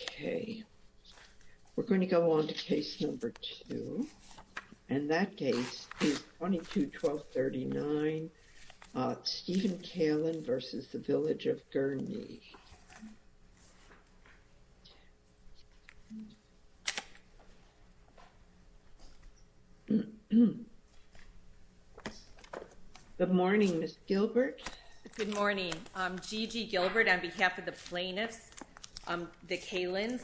Okay We're going to go on to case number two and that case is 22-1239 Stephen Kailin v. The Village of Gurnee Good morning, Ms. Gilbert. Good morning. I'm Gigi Gilbert on behalf of the plaintiffs the Kailin's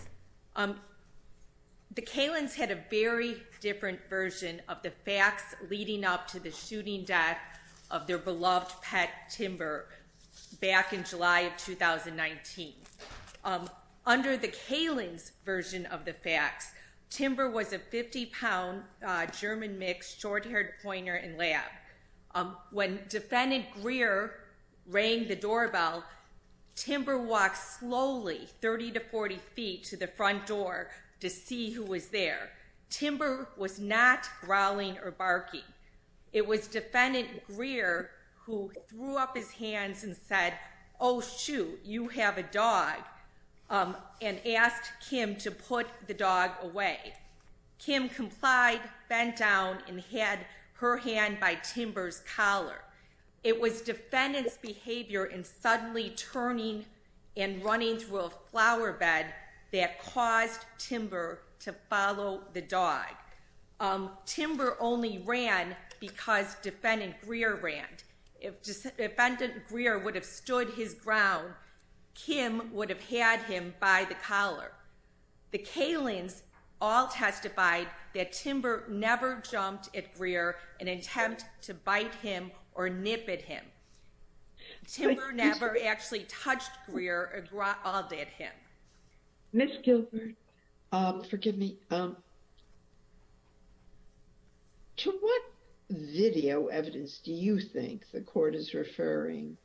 The Kailin's had a very different version of the facts leading up to the shooting death of their beloved pet timber back in July of 2019 Under the Kailin's version of the facts timber was a 50-pound German mix short-haired pointer and lab when defendant Greer rang the doorbell Timber walked slowly 30 to 40 feet to the front door to see who was there Timber was not growling or barking It was defendant Greer who threw up his hands and said oh shoot you have a dog And asked Kim to put the dog away Kim complied bent down and had her hand by timbers collar It was defendants behavior in suddenly turning and running through a flowerbed that caused Timber to follow the dog Timber only ran because defendant Greer ran. If defendant Greer would have stood his ground Kim would have had him by the collar the Kailin's all Testified that timber never jumped at Greer and attempt to bite him or nip at him Timber never actually touched Greer or growled at him Miss Gilbert Forgive me To what Video evidence. Do you think the court is referring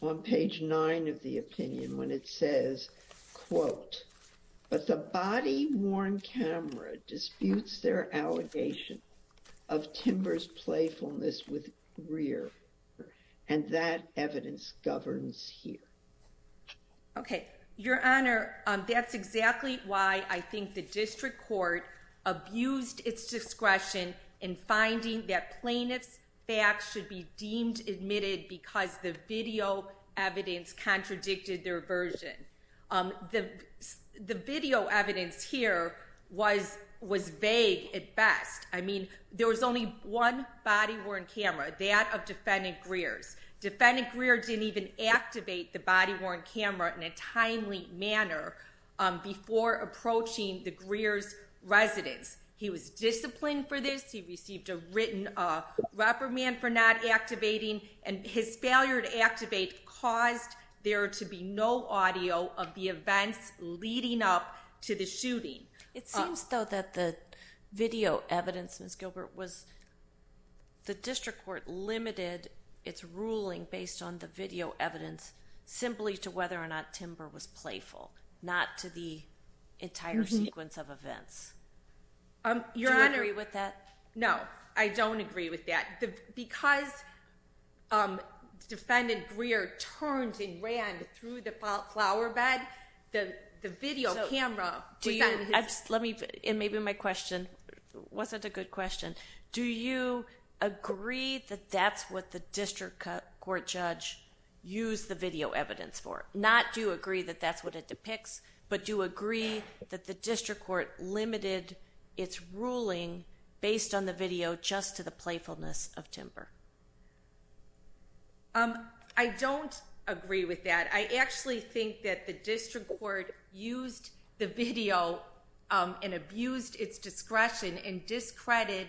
on page 9 of the opinion when it says quote But the body-worn camera disputes their allegation of Timber's playfulness with Greer and that evidence governs here Okay, your honor. That's exactly why I think the district court Abused its discretion in finding that plaintiff's facts should be deemed admitted because the video evidence contradicted their version the The video evidence here was was vague at best I mean there was only one body-worn camera that of defendant Greer's Defendant Greer didn't even activate the body-worn camera in a timely manner before approaching the Greer's Residence he was disciplined for this. He received a written Reprimand for not activating and his failure to activate caused there to be no audio of the events Leading up to the shooting. It seems though that the video evidence miss Gilbert was The district court limited its ruling based on the video evidence simply to whether or not timber was playful not to the entire sequence of events I'm your honoree with that. No, I don't agree with that because Defendant Greer turns and ran through the flowerbed the the video camera Let me put in maybe my question Wasn't a good question. Do you? Agree that that's what the district court judge Use the video evidence for not do you agree that that's what it depicts But do agree that the district court limited its ruling based on the video just to the playfulness of timber Um, I don't agree with that I actually think that the district court used the video And abused its discretion and discredited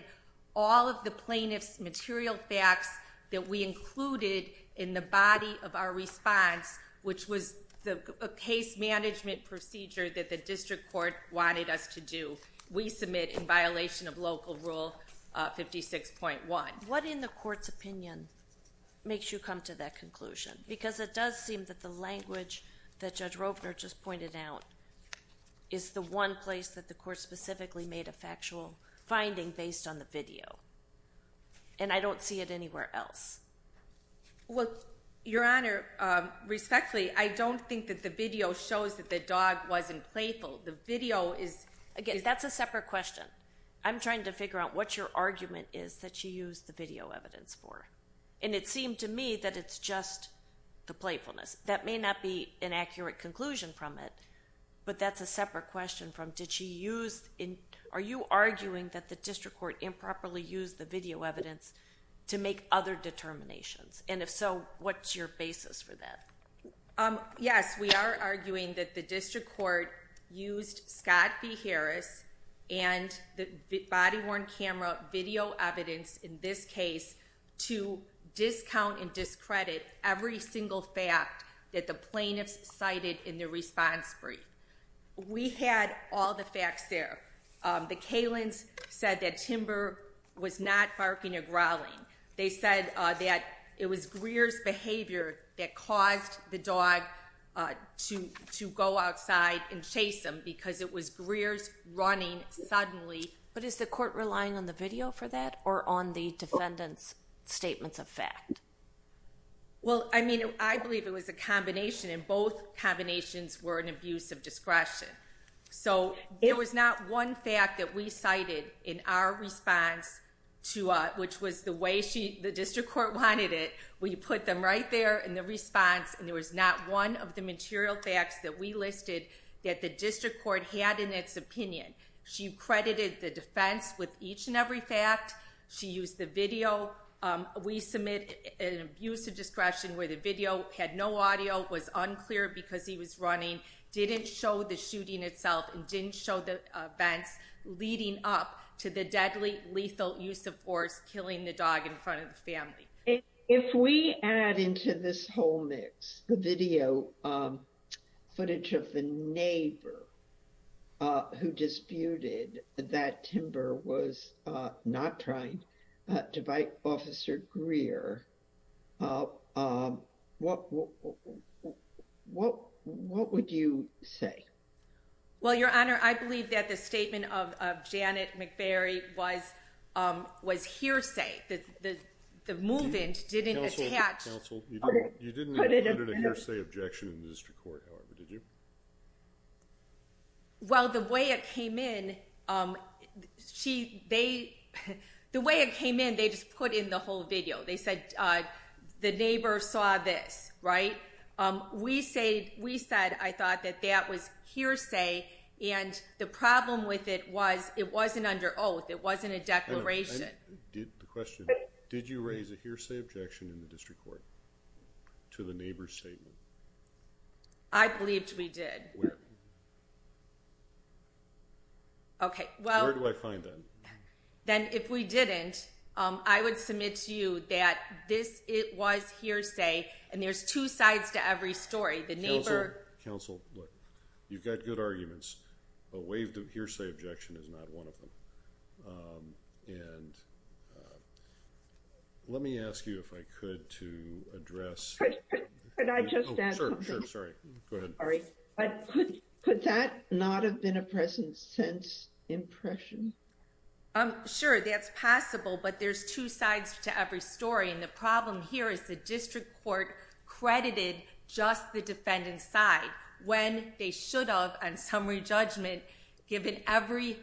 all of the plaintiffs material facts that we included In the body of our response Which was the case management procedure that the district court wanted us to do we submit in violation of local rule? 56.1 what in the court's opinion Makes you come to that conclusion because it does seem that the language that judge Roper just pointed out Is the one place that the court specifically made a factual finding based on the video and I don't see it anywhere else What your honor? Respectfully, I don't think that the video shows that the dog wasn't playful the video is again. That's a separate question I'm trying to figure out what your argument is that she used the video evidence for and it seemed to me that it's just The playfulness that may not be an accurate conclusion from it But that's a separate question from did she used in are you arguing that the district court improperly used the video evidence? To make other determinations, and if so, what's your basis for that? Yes, we are arguing that the district court used Scott v. Harris and the body-worn camera video evidence in this case to Discount and discredit every single fact that the plaintiffs cited in the response brief We had all the facts there The Kalins said that timber was not barking or growling They said that it was Greer's behavior that caused the dog To to go outside and chase them because it was Greer's running suddenly But is the court relying on the video for that or on the defendants? statements of fact Well, I mean, I believe it was a combination and both combinations were an abuse of discretion So it was not one fact that we cited in our response To which was the way she the district court wanted it We put them right there in the response and there was not one of the material facts that we listed That the district court had in its opinion. She credited the defense with each and every fact she used the video We submit an abuse of discretion where the video had no audio was unclear because he was running Didn't show the shooting itself and didn't show the events Leading up to the deadly lethal use of force killing the dog in front of the family If we add into this whole mix the video footage of the neighbor Who disputed that timber was not trying to bite officer Greer? What What what would you say well, your honor, I believe that the statement of Janet McBury was Was hearsay that the the movement didn't attach Well the way it came in she they The way it came in they just put in the whole video. They said The neighbor saw this right We say we said I thought that that was hearsay and the problem with it was it wasn't under oath It wasn't a declaration Did the question did you raise a hearsay objection in the district court? to the neighbor's statement I Believed we did Okay, well do I find that Then if we didn't I would submit to you that this it was hearsay And there's two sides to every story the neighbor council You've got good arguments a waived of hearsay objection is not one of them and Let me ask you if I could to address Could that not have been a presence since impression Sure, that's possible, but there's two sides to every story and the problem here is the district court Credited just the defendant's side when they should have and summary judgment given every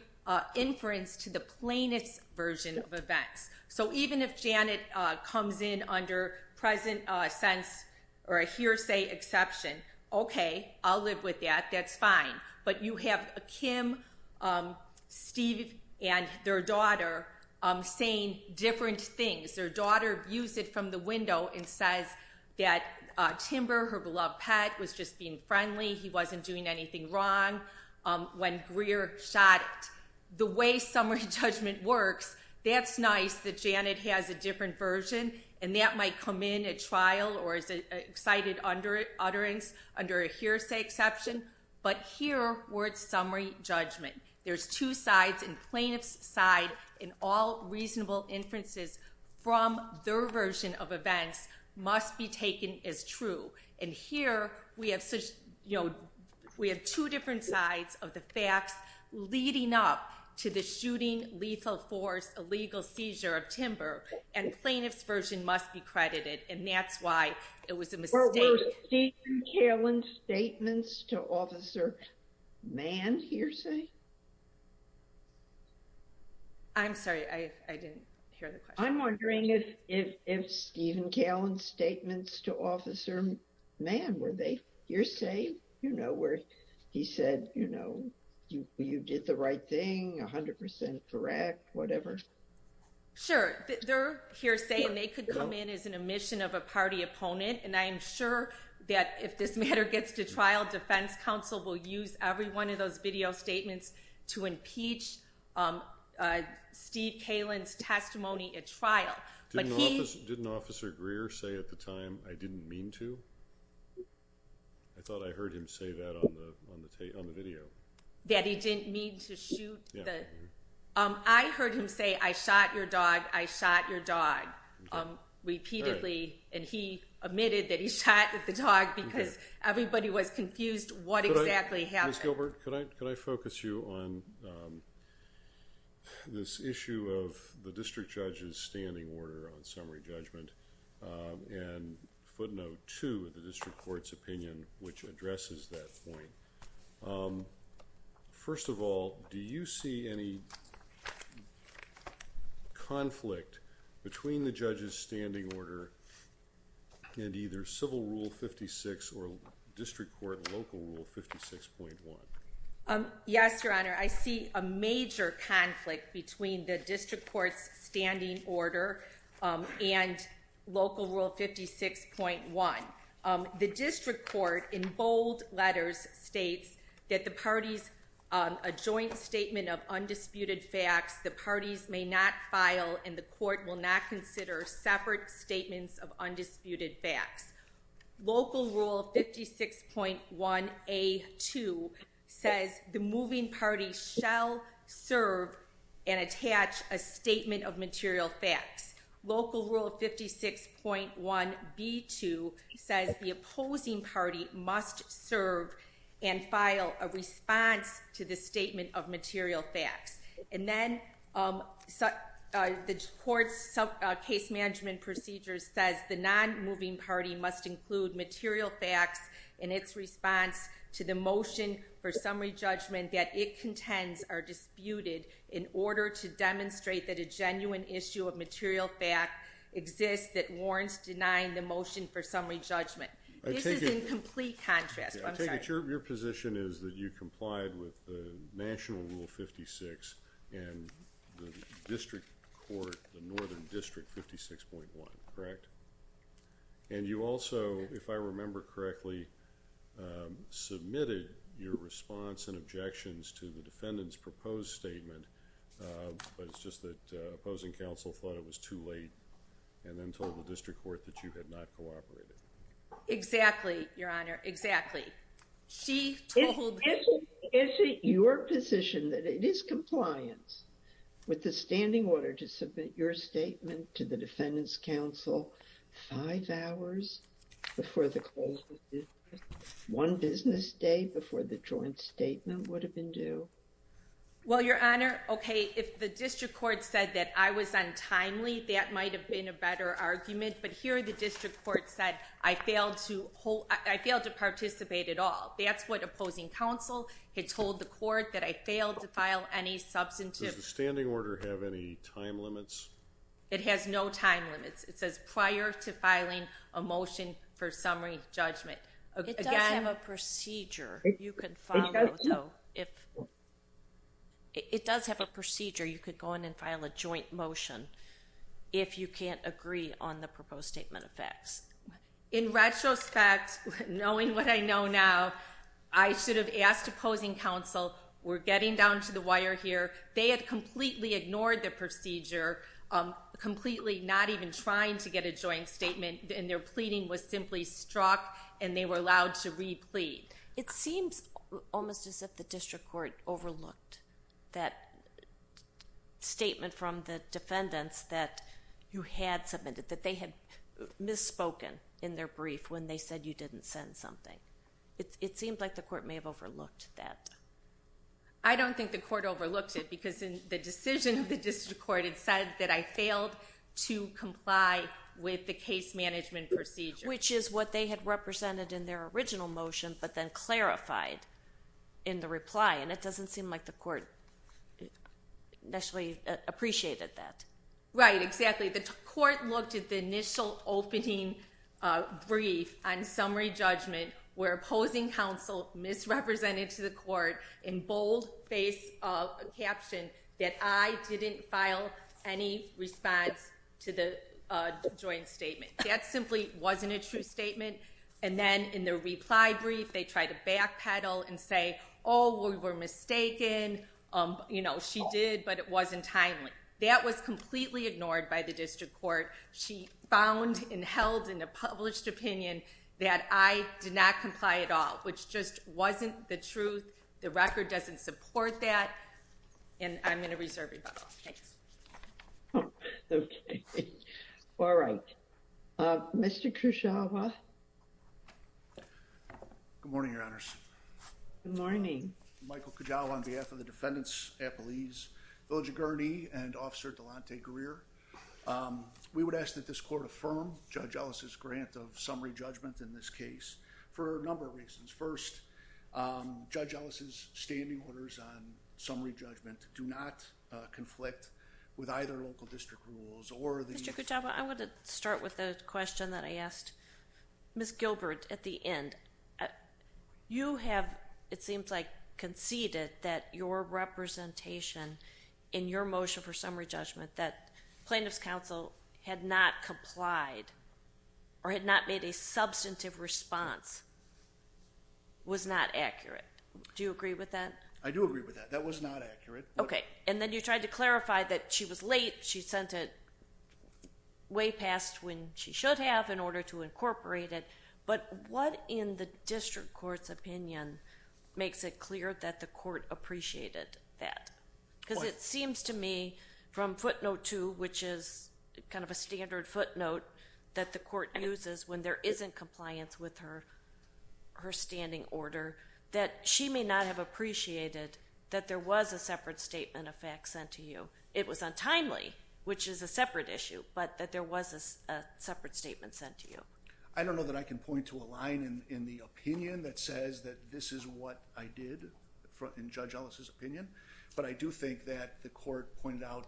Inference to the plainest version of events so even if Janet comes in under present sense Or a hearsay exception, okay, I'll live with that. That's fine, but you have a Kim Steve and their daughter saying different things their daughter views it from the window and says that Timber her beloved pet was just being friendly. He wasn't doing anything wrong When Greer shot it the way summary judgment works That's nice that Janet has a different version and that might come in at trial or is it excited under it utterance? under a hearsay exception But here words summary judgment There's two sides and plaintiff's side in all reasonable inferences from their version of events Must be taken as true and here we have such you know We have two different sides of the facts leading up to the shooting lethal force a legal seizure of timber and Plaintiff's version must be credited and that's why it was a mistake Cailin's statements to officer man hearsay I'm sorry. I didn't hear the question. I'm wondering if Stephen Cailin's statements to officer man were they hearsay, you know where he said, you know You did the right thing a hundred percent, correct, whatever Sure, they're hearsay and they could come in as an omission of a party opponent And I am sure that if this matter gets to trial Defense Council will use every one of those video statements to impeach Steve Cailin's testimony at trial, but he didn't officer Greer say at the time. I didn't mean to I Thought I heard him say that on the on the tape on the video that he didn't mean to shoot I heard him say I shot your dog. I shot your dog Repeatedly and he admitted that he shot at the dog because everybody was confused. What exactly happened Gilbert? Could I could I focus you on? This issue of the district judge's standing order on summary judgment And footnote to the district court's opinion, which addresses that point First of all, do you see any Conflict between the judges standing order And either civil rule 56 or district court local rule fifty six point one Yes, your honor. I see a major conflict between the district courts standing order and local rule fifty six point one The district court in bold letters states that the parties a joint statement of Undisputed facts the parties may not file and the court will not consider separate statements of undisputed facts local rule fifty six point one a Two says the moving party shall serve and attach a statement of material facts Local rule fifty six point one b2 says the opposing party must serve and file a response to the statement of material facts and then such the courts Case management procedures says the non moving party must include material facts in its response to the motion for summary judgment that it contends are Undisputed in order to demonstrate that a genuine issue of material fact Exists that warrants denying the motion for summary judgment. It's a complete contrast I think it's your position is that you complied with the national rule fifty six and the district court the northern district fifty six point one, correct and You also if I remember correctly Submitted your response and objections to the defendants proposed statement But it's just that opposing counsel thought it was too late and then told the district court that you had not cooperated Exactly, your honor. Exactly She told me is it your position that it is compliance? With the standing order to submit your statement to the defendants counsel five hours Before the One business day before the joint statement would have been due Well, your honor. Okay, if the district court said that I was untimely that might have been a better argument But here the district court said I failed to hold I failed to participate at all That's what opposing counsel had told the court that I failed to file any substantive standing order have any time limits It has no time limits it says prior to filing a motion for summary judgment Okay, I have a procedure you can follow. So if It does have a procedure you could go in and file a joint motion If you can't agree on the proposed statement of facts in retrospect Knowing what I know now, I should have asked opposing counsel. We're getting down to the wire here They had completely ignored the procedure Completely not even trying to get a joint statement and their pleading was simply struck and they were allowed to replete it seems Almost as if the district court overlooked that Statement from the defendants that you had submitted that they had Misspoken in their brief when they said you didn't send something. It seemed like the court may have overlooked that I Because in the decision of the district court, it said that I failed to comply with the case management procedure Which is what they had represented in their original motion, but then clarified in the reply and it doesn't seem like the court Actually appreciated that right exactly the court looked at the initial opening Brief on summary judgment where opposing counsel misrepresented to the court in bold face Caption that I didn't file any response to the Joint statement that simply wasn't a true statement and then in the reply brief They try to backpedal and say oh we were mistaken You know she did but it wasn't timely that was completely ignored by the district court She found and held in a published opinion that I did not comply at all Which just wasn't the truth the record doesn't support that and I'm gonna reserve All right, mr. Kusawa Good morning, your honors Good morning, Michael Kujawa on behalf of the defendants a police village gurney and officer Delonte career We would ask that this court affirmed judge Ellis's grant of summary judgment in this case for a number of reasons first Judge Ellis's standing orders on summary judgment do not Conflict with either local district rules or mr.. Kujawa. I want to start with the question that I asked Miss Gilbert at the end you have it seems like conceded that your Representation in your motion for summary judgment that plaintiff's counsel had not complied Or had not made a substantive response Was not accurate do you agree with that? I do agree with that that was not accurate, okay? And then you tried to clarify that she was late. She sent it Way past when she should have in order to incorporate it, but what in the district courts opinion? Makes it clear that the court appreciated that because it seems to me from footnote 2 Which is kind of a standard footnote that the court uses when there isn't compliance with her Her standing order that she may not have appreciated that there was a separate statement of facts sent to you It was untimely which is a separate issue, but that there was a separate statement sent to you I don't know that I can point to a line in in the opinion that says that this is what I did front in judge Ellis's opinion, but I do think that the court pointed out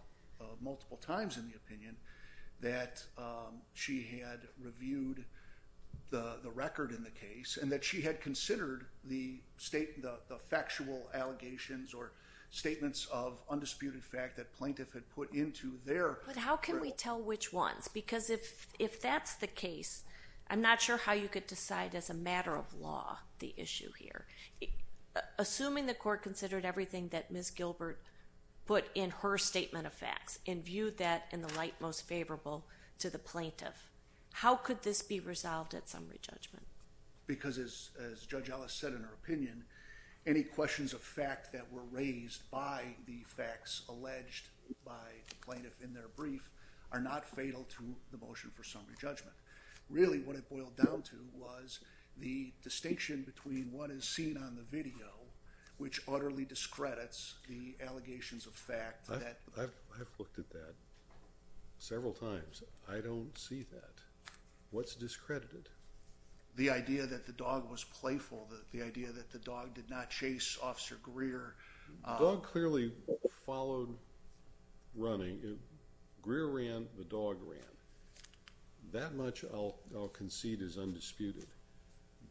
multiple times in the opinion that She had reviewed the the record in the case and that she had considered the state the factual allegations or Statements of undisputed fact that plaintiff had put into there How can we tell which ones because if if that's the case I'm not sure how you could decide as a matter of law the issue here Assuming the court considered everything that miss Gilbert Put in her statement of facts and viewed that in the light most favorable to the plaintiff How could this be resolved at summary judgment? Because as judge Ellis said in her opinion any questions of fact that were raised by the facts alleged By the plaintiff in their brief are not fatal to the motion for summary judgment Really what it boiled down to was the distinction between what is seen on the video? Which utterly discredits the allegations of fact that I've looked at that Several times. I don't see that What's discredited? The idea that the dog was playful the idea that the dog did not chase officer Greer dog clearly followed Running it Greer ran the dog ran That much I'll concede is undisputed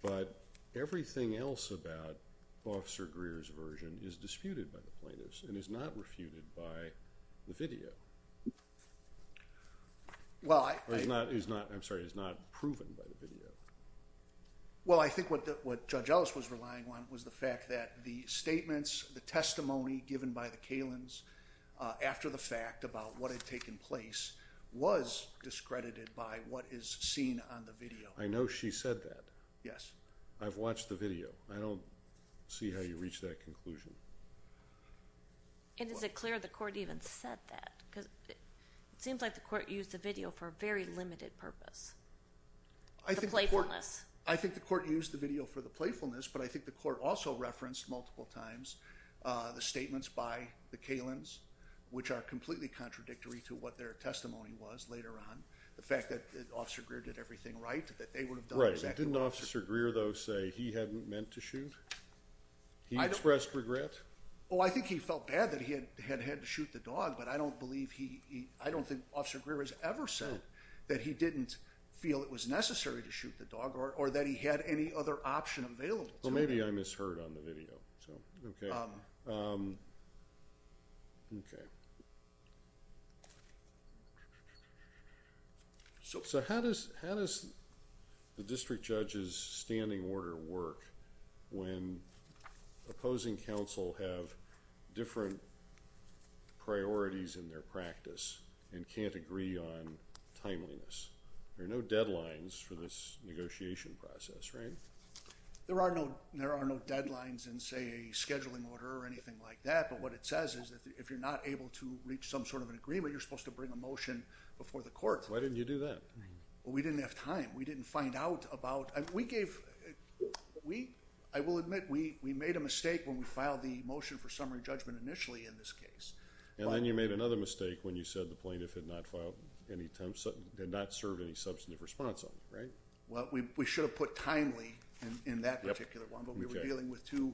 but everything else about Officer Greer's version is disputed by the plaintiffs and is not refuted by the video Well, I'm sorry it's not proven by the video Well, I think what that what judge Ellis was relying on was the fact that the statements the testimony given by the Kalins After the fact about what had taken place Was discredited by what is seen on the video? I know she said that yes. I've watched the video I don't see how you reach that conclusion And is it clear the court even said that because it seems like the court used the video for a very limited purpose I Think like one less. I think the court used the video for the playfulness, but I think the court also referenced multiple times The statements by the Kalins which are completely contradictory to what their testimony was later on the fact that officer Greer did Everything right that they would have done right didn't officer Greer though say he hadn't meant to shoot He expressed regret. Oh, I think he felt bad that he had had had to shoot the dog But I don't believe he I don't think officer Greer has ever said that he didn't Feel it was necessary to shoot the dog or that he had any other option available. Well, maybe I misheard on the video So, okay Okay So, so how does how does the district judge's standing order work when opposing counsel have different Priorities in their practice and can't agree on Timeliness there are no deadlines for this negotiation process, right? There are no there are no deadlines and say a scheduling order or anything like that But what it says is if you're not able to reach some sort of an agreement, you're supposed to bring a motion before the court Why didn't you do that? Well, we didn't have time. We didn't find out about and we gave We I will admit we we made a mistake when we filed the motion for summary judgment initially in this case And then you made another mistake when you said the plaintiff had not filed any attempts Did not serve any substantive response on right? Well, we should have put timely in that particular one, but we were dealing with two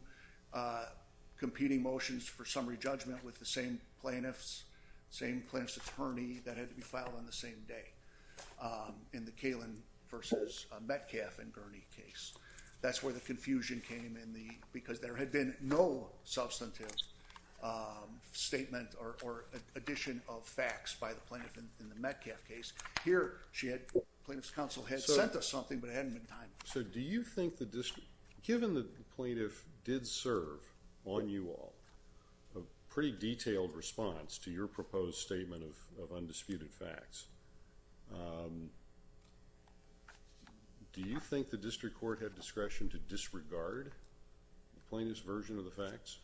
Competing motions for summary judgment with the same plaintiffs same plants attorney that had to be filed on the same day In the Kalin versus Metcalf and Gurney case. That's where the confusion came in the because there had been no substantive Statement or addition of facts by the plaintiff in the Metcalf case here She had plaintiffs counsel had sent us something but hadn't been time So do you think the district given the plaintiff did serve on you all a pretty? Detailed response to your proposed statement of undisputed facts Do you think the district court had discretion to disregard Plaintiff's version of the facts.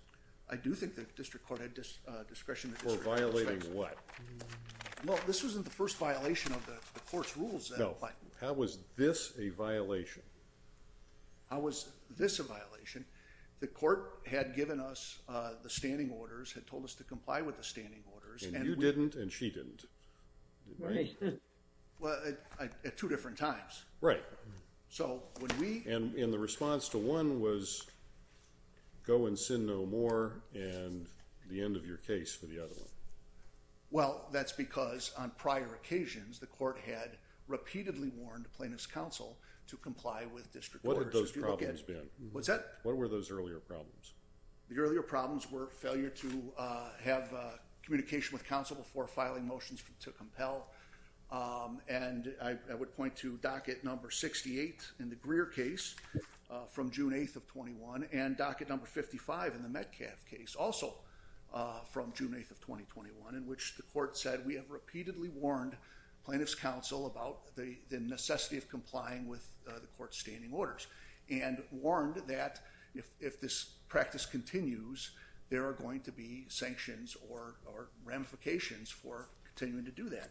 I do think that district court had just discretion for violating what? Well, this wasn't the first violation of the course rules. No, but how was this a violation? How was this a violation? The court had given us the standing orders had told us to comply with the standing orders and you didn't and she didn't Well at two different times right so when we and in the response to one was Go and sin no more and the end of your case for the other one Well, that's because on prior occasions the court had repeatedly warned plaintiffs counsel to comply with district What are those problems been? What's that? What were those earlier problems? The earlier problems were failure to have Communication with counsel before filing motions to compel And I would point to docket number 68 in the Greer case from June 8th of 21 and docket number 55 in the Metcalf case also From June 8th of 2021 in which the court said we have repeatedly warned plaintiffs counsel about the necessity of complying with the court's standing orders and Warned that if this practice continues there are going to be sanctions or ramifications for continuing to do that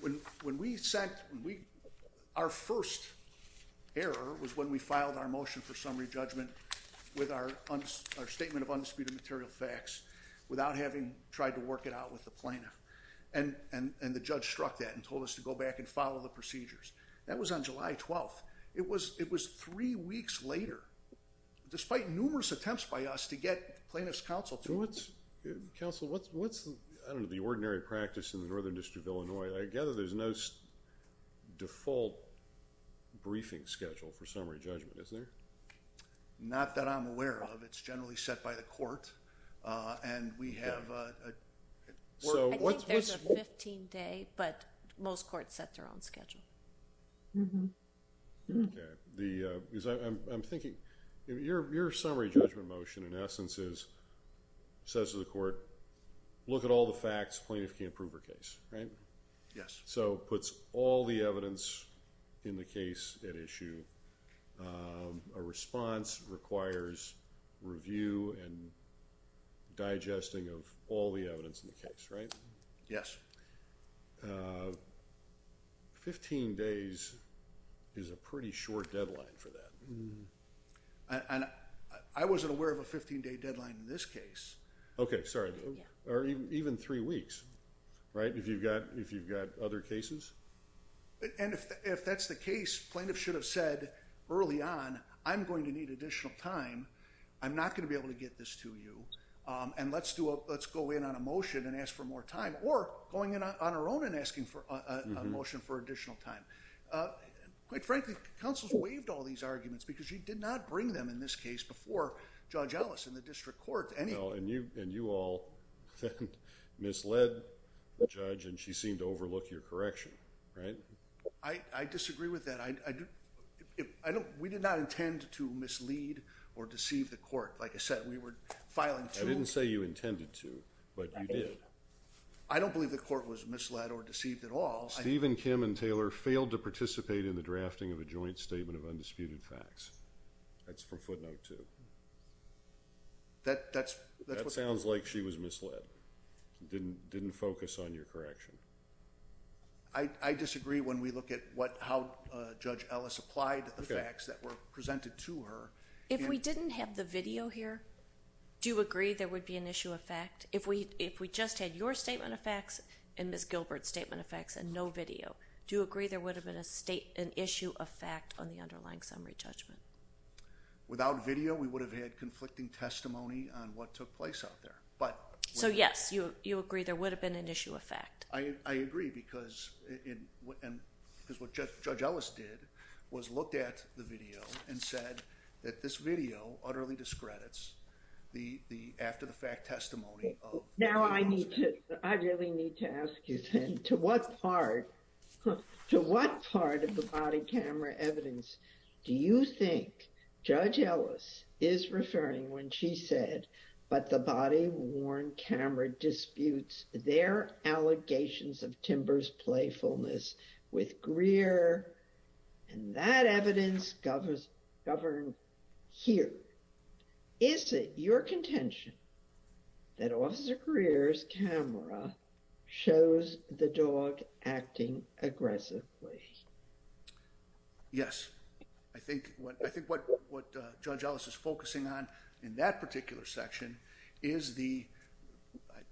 when when we sent we our first Error was when we filed our motion for summary judgment with our statement of undisputed material facts without having tried to work it out with the plaintiff and And and the judge struck that and told us to go back and follow the procedures that was on July 12th It was three weeks later Despite numerous attempts by us to get plaintiffs counsel to what's good counsel What's what's the I don't know the ordinary practice in the northern district of Illinois. I gather there's no default Briefing schedule for summary judgment is there? Not that I'm aware of it's generally set by the court and we have So what's 15 day, but most courts set their own schedule The because I'm thinking your summary judgment motion in essence is says to the court Look at all the facts plaintiff can't prove her case, right? Yes, so puts all the evidence in the case at issue a response requires review and Digesting of all the evidence in the case, right? Yes a 15 days is a pretty short deadline for that. Mm-hmm And I wasn't aware of a 15-day deadline in this case. Okay, sorry or even three weeks Right if you've got if you've got other cases And if that's the case plaintiff should have said early on I'm going to need additional time I'm not going to be able to get this to you And let's do a let's go in on a motion and ask for more time or going in on our own and asking for a motion for additional time Quite frankly counsels waived all these arguments because she did not bring them in this case before Judge Ellis in the district court and you and you all Misled the judge and she seemed to overlook your correction, right? I Disagree with that. I Don't we did not intend to mislead or deceive the court Like I said, we were filing I didn't say you intended to but I don't believe the court was misled or deceived at all Stephen Kim and Taylor failed to participate in the drafting of a joint statement of undisputed facts That's for footnote to That that's that sounds like she was misled didn't didn't focus on your correction. I Disagree when we look at what how judge Ellis applied the facts that were presented to her if we didn't have the video here Do you agree? There would be an issue of fact if we if we just had your statement of facts and miss Gilbert statement of facts and no Video do you agree? There would have been a state an issue of fact on the underlying summary judgment Without video we would have had conflicting testimony on what took place out there But so yes, you you agree. There would have been an issue of fact I agree because in what and because what judge Ellis did was looked at the video and said that this video utterly discredits the After-the-fact testimony now, I need to I really need to ask you then to what part To what part of the body camera evidence? Do you think judge Ellis is referring when she said but the body worn camera? disputes their allegations of timbers playfulness with Greer and That evidence governs govern here Is it your contention? that officer careers camera Shows the dog acting aggressively Yes, I think what I think what what judge Ellis is focusing on in that particular section is the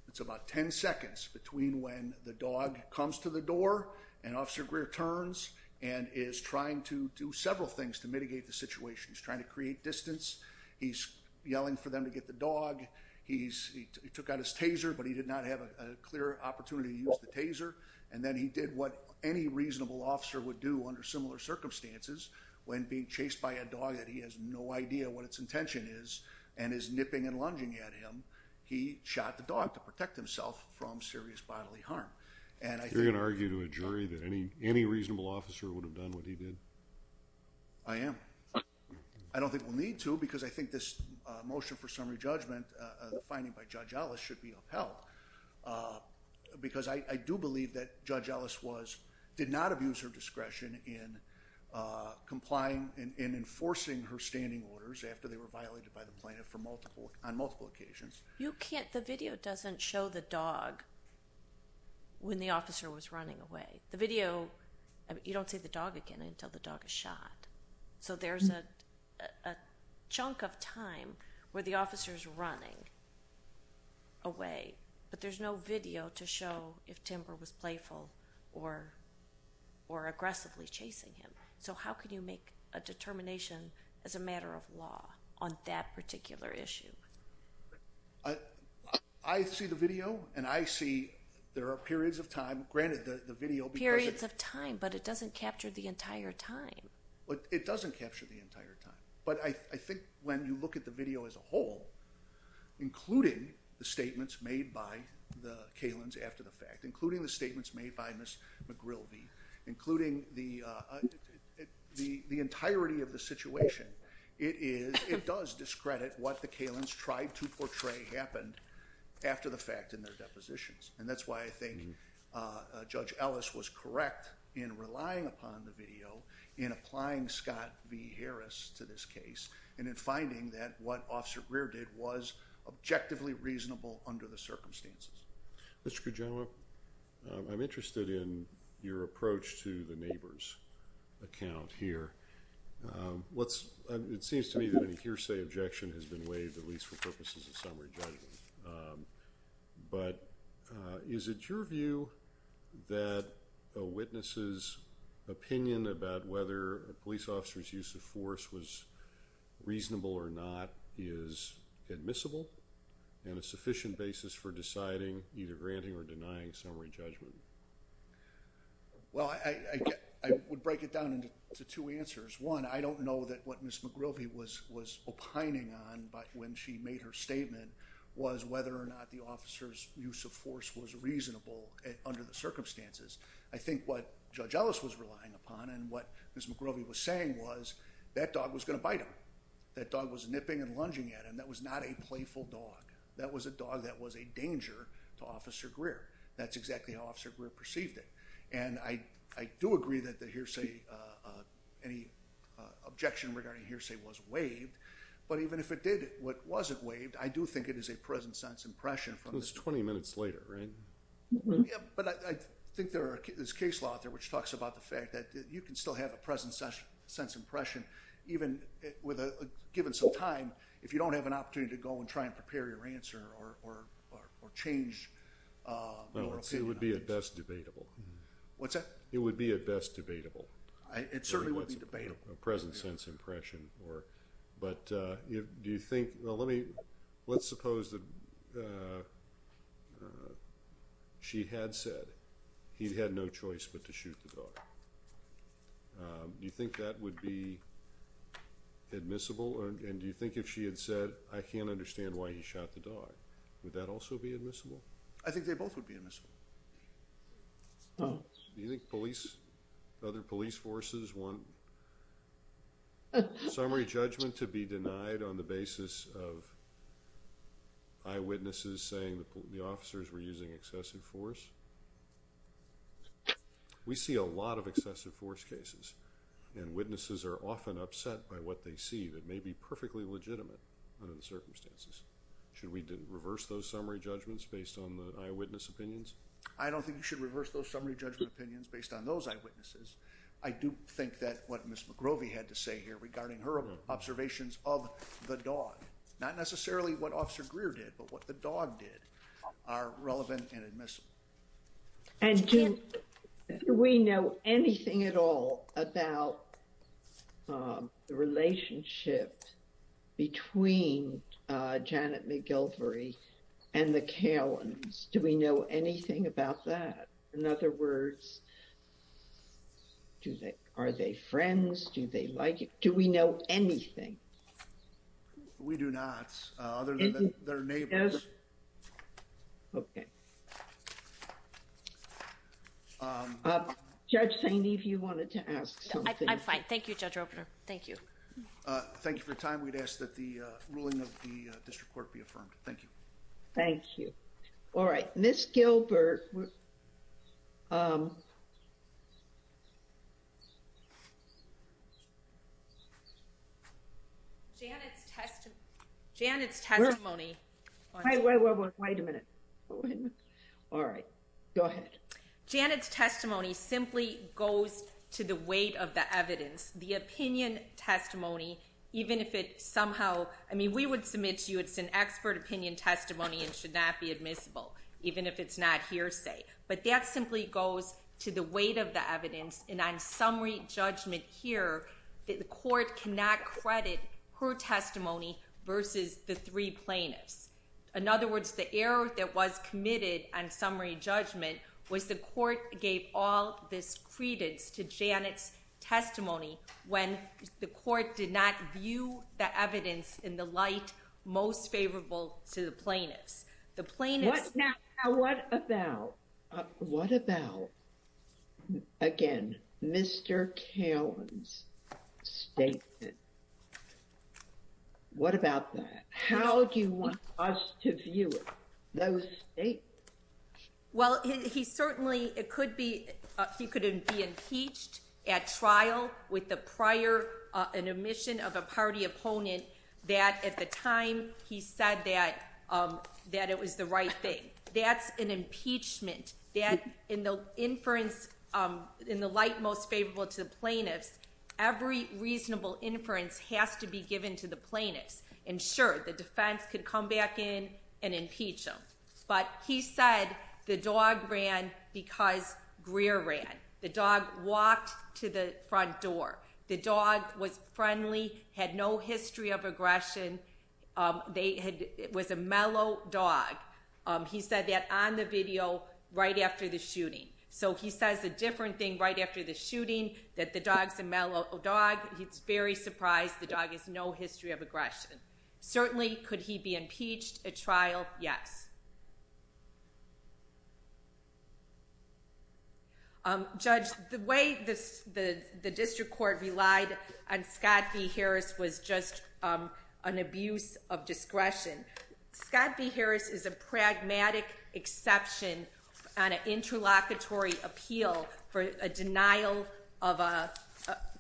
it's about 10 seconds between when the dog comes to the door and officer Greer turns and Is trying to do several things to mitigate the situation. He's trying to create distance He's yelling for them to get the dog He's he took out his taser But he did not have a clear opportunity to use the taser and then he did what any reasonable officer would do under similar Circumstances when being chased by a dog that he has no idea what its intention is and is nipping and lunging at him He shot the dog to protect himself from serious bodily harm And I can argue to a jury that any any reasonable officer would have done what he did. I Am I don't think we'll need to because I think this motion for summary judgment the finding by judge Ellis should be upheld Because I do believe that judge Ellis was did not abuse her discretion in Complying in enforcing her standing orders after they were violated by the plaintiff for multiple on multiple occasions You can't the video doesn't show the dog When the officer was running away the video you don't see the dog again until the dog is shot. So there's a Chunk of time where the officers running away, but there's no video to show if Timber was playful or Or aggressively chasing him. So how can you make a determination as a matter of law on that particular issue? I See the video and I see there are periods of time granted the video periods of time But it doesn't capture the entire time, but it doesn't capture the entire time. But I think when you look at the video as a whole Including the statements made by the Cailin's after the fact including the statements made by miss McGrilvie including the The the entirety of the situation it is it does discredit what the Cailin's tried to portray happened After the fact in their depositions and that's why I think Judge Ellis was correct in relying upon the video in Applying Scott v. Harris to this case and in finding that what officer Greer did was objectively reasonable under the circumstances Mr. Kujawa I'm interested in your approach to the neighbors account here What's it seems to me that any hearsay objection has been waived at least for purposes of summary judgment but Is it your view? that witnesses Opinion about whether a police officer's use of force was reasonable or not is admissible and a sufficient basis for deciding either granting or denying summary judgment Well, I Would break it down into two answers one. I don't know that what miss McGrilvie was was opining on But when she made her statement was whether or not the officers use of force was reasonable under the circumstances I think what judge Ellis was relying upon and what miss McGrovey was saying was that dog was gonna bite him That dog was nipping and lunging at him. That was not a playful dog. That was a dog That was a danger to officer Greer. That's exactly how officer Greer perceived it. And I I do agree that the hearsay any Objection regarding hearsay was waived. But even if it did what wasn't waived? I do think it is a present-sense impression from this 20 minutes later, right? But I think there is case law out there which talks about the fact that you can still have a present such sense impression even With a given some time if you don't have an opportunity to go and try and prepare your answer or or or change Well, it would be a best debatable What's that? It would be a best debatable. I it certainly would be debatable present-sense impression or but Do you think well, let me let's suppose the She Had said he'd had no choice but to shoot the dog Do you think that would be? Admissible and do you think if she had said I can't understand why he shot the dog would that also be admissible? I think they both would be admissible Well, do you think police other police forces want? Summary judgment to be denied on the basis of Eyewitnesses saying that the officers were using excessive force We see a lot of excessive force cases and Witnesses are often upset by what they see that may be perfectly legitimate under the circumstances Should we didn't reverse those summary judgments based on the eyewitness opinions? I don't think you should reverse those summary judgment opinions based on those eyewitnesses I do think that what miss McGrovey had to say here regarding her observations of the dog Not necessarily what officer Greer did but what the dog did are relevant and admissible and Jim We know anything at all about the relationship between Janet McGilvory and the Cairns. Do we know anything about that? In other words? Do they are they friends do they like it do we know anything? We do not other than their neighbors Okay Judge Saini if you wanted to ask I'm fine. Thank you, Judge Roper. Thank you Thank you for time. We'd ask that the ruling of the district court be affirmed. Thank you. Thank you. All right, Miss Gilbert Janet's testimony Wait a minute All right, go ahead Janet's testimony simply goes to the weight of the evidence the opinion testimony Even if it somehow I mean we would submit to you It's an expert opinion testimony and should not be admissible Even if it's not hearsay, but that simply goes to the weight of the evidence and I'm summary judgment here That the court cannot credit her testimony versus the three plaintiffs in other words The error that was committed and summary judgment was the court gave all this credence to Janet's Testimony when the court did not view the evidence in the light most favorable to the plaintiffs The plane is now what about? What about? Again, mr. Cowan's state What about that, how do you want us to view it those Well, he certainly it could be if you couldn't be impeached at trial with the prior Admission of a party opponent that at the time he said that It was the right thing that's an impeachment that in the inference in the light most favorable to the plaintiffs every Reasonable inference has to be given to the plaintiffs and sure the defense could come back in and impeach them But he said the dog ran because Greer ran the dog walked to the front door The dog was friendly had no history of aggression They had it was a mellow dog He said that on the video right after the shooting So he says a different thing right after the shooting that the dogs a mellow dog He's very surprised. The dog has no history of aggression Certainly, could he be impeached at trial? Yes Judge the way this the the district court relied on Scott B. Harris was just an abuse of discretion Scott B. Harris is a pragmatic exception on an interlocutory appeal for a denial of a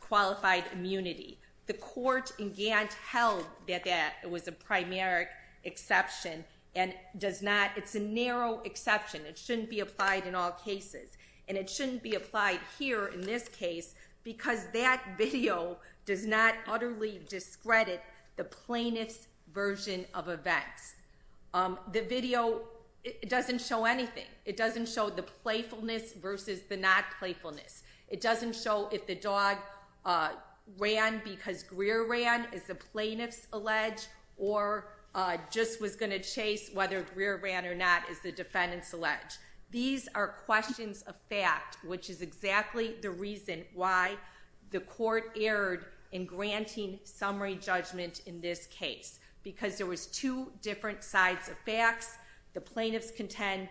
Qualified immunity the court in Gantt held that that it was a primary Exception and does not it's a narrow exception It shouldn't be applied in all cases and it shouldn't be applied here in this case because that video does not utterly discredit the plaintiffs version of events The video it doesn't show anything. It doesn't show the playfulness versus the not playfulness. It doesn't show if the dog ran because Greer ran as the plaintiffs alleged or Just was going to chase whether Greer ran or not as the defendants alleged These are questions of fact, which is exactly the reason why the court erred in Summary judgment in this case because there was two different sides of facts the plaintiffs contend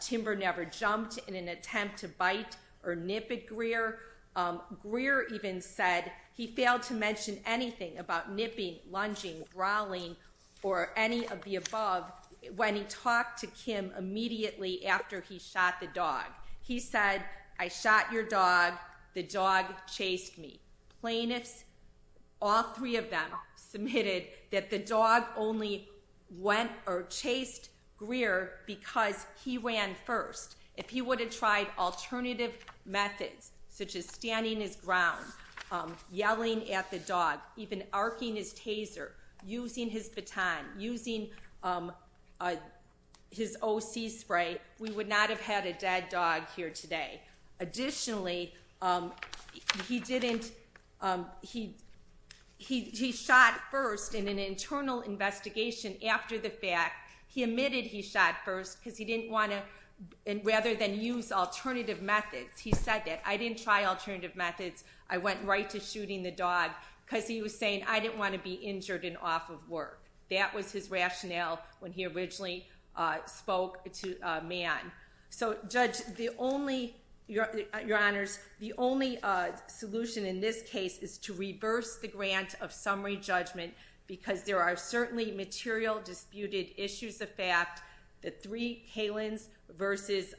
Timber never jumped in an attempt to bite or nip at Greer Greer even said he failed to mention anything about nipping lunging growling or any of the above When he talked to Kim immediately after he shot the dog He said I shot your dog the dog chased me plaintiffs All three of them submitted that the dog only Went or chased Greer because he ran first if he would have tried Alternative methods such as standing his ground Yelling at the dog even arcing his taser using his baton using His OC spray we would not have had a dead dog here today additionally He didn't he He shot first in an internal investigation After the fact he admitted he shot first because he didn't want to and rather than use alternative methods He said that I didn't try alternative methods I went right to shooting the dog because he was saying I didn't want to be injured and off of work That was his rationale when he originally Spoke to man. So judge the only Your honors the only Solution in this case is to reverse the grant of summary judgment because there are certainly material disputed issues of fact the three Kalins versus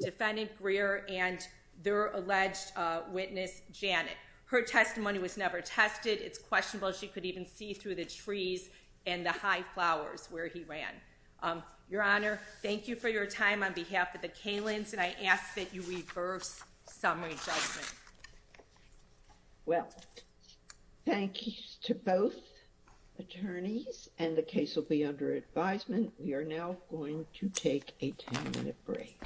defendant Greer and their alleged Witness Janet her testimony was never tested. It's questionable She could even see through the trees and the high flowers where he ran Your honor, thank you for your time on behalf of the Kalins and I ask that you reverse summary judgment Well Thank you to both Attorneys and the case will be under advisement. We are now going to take a 10-minute break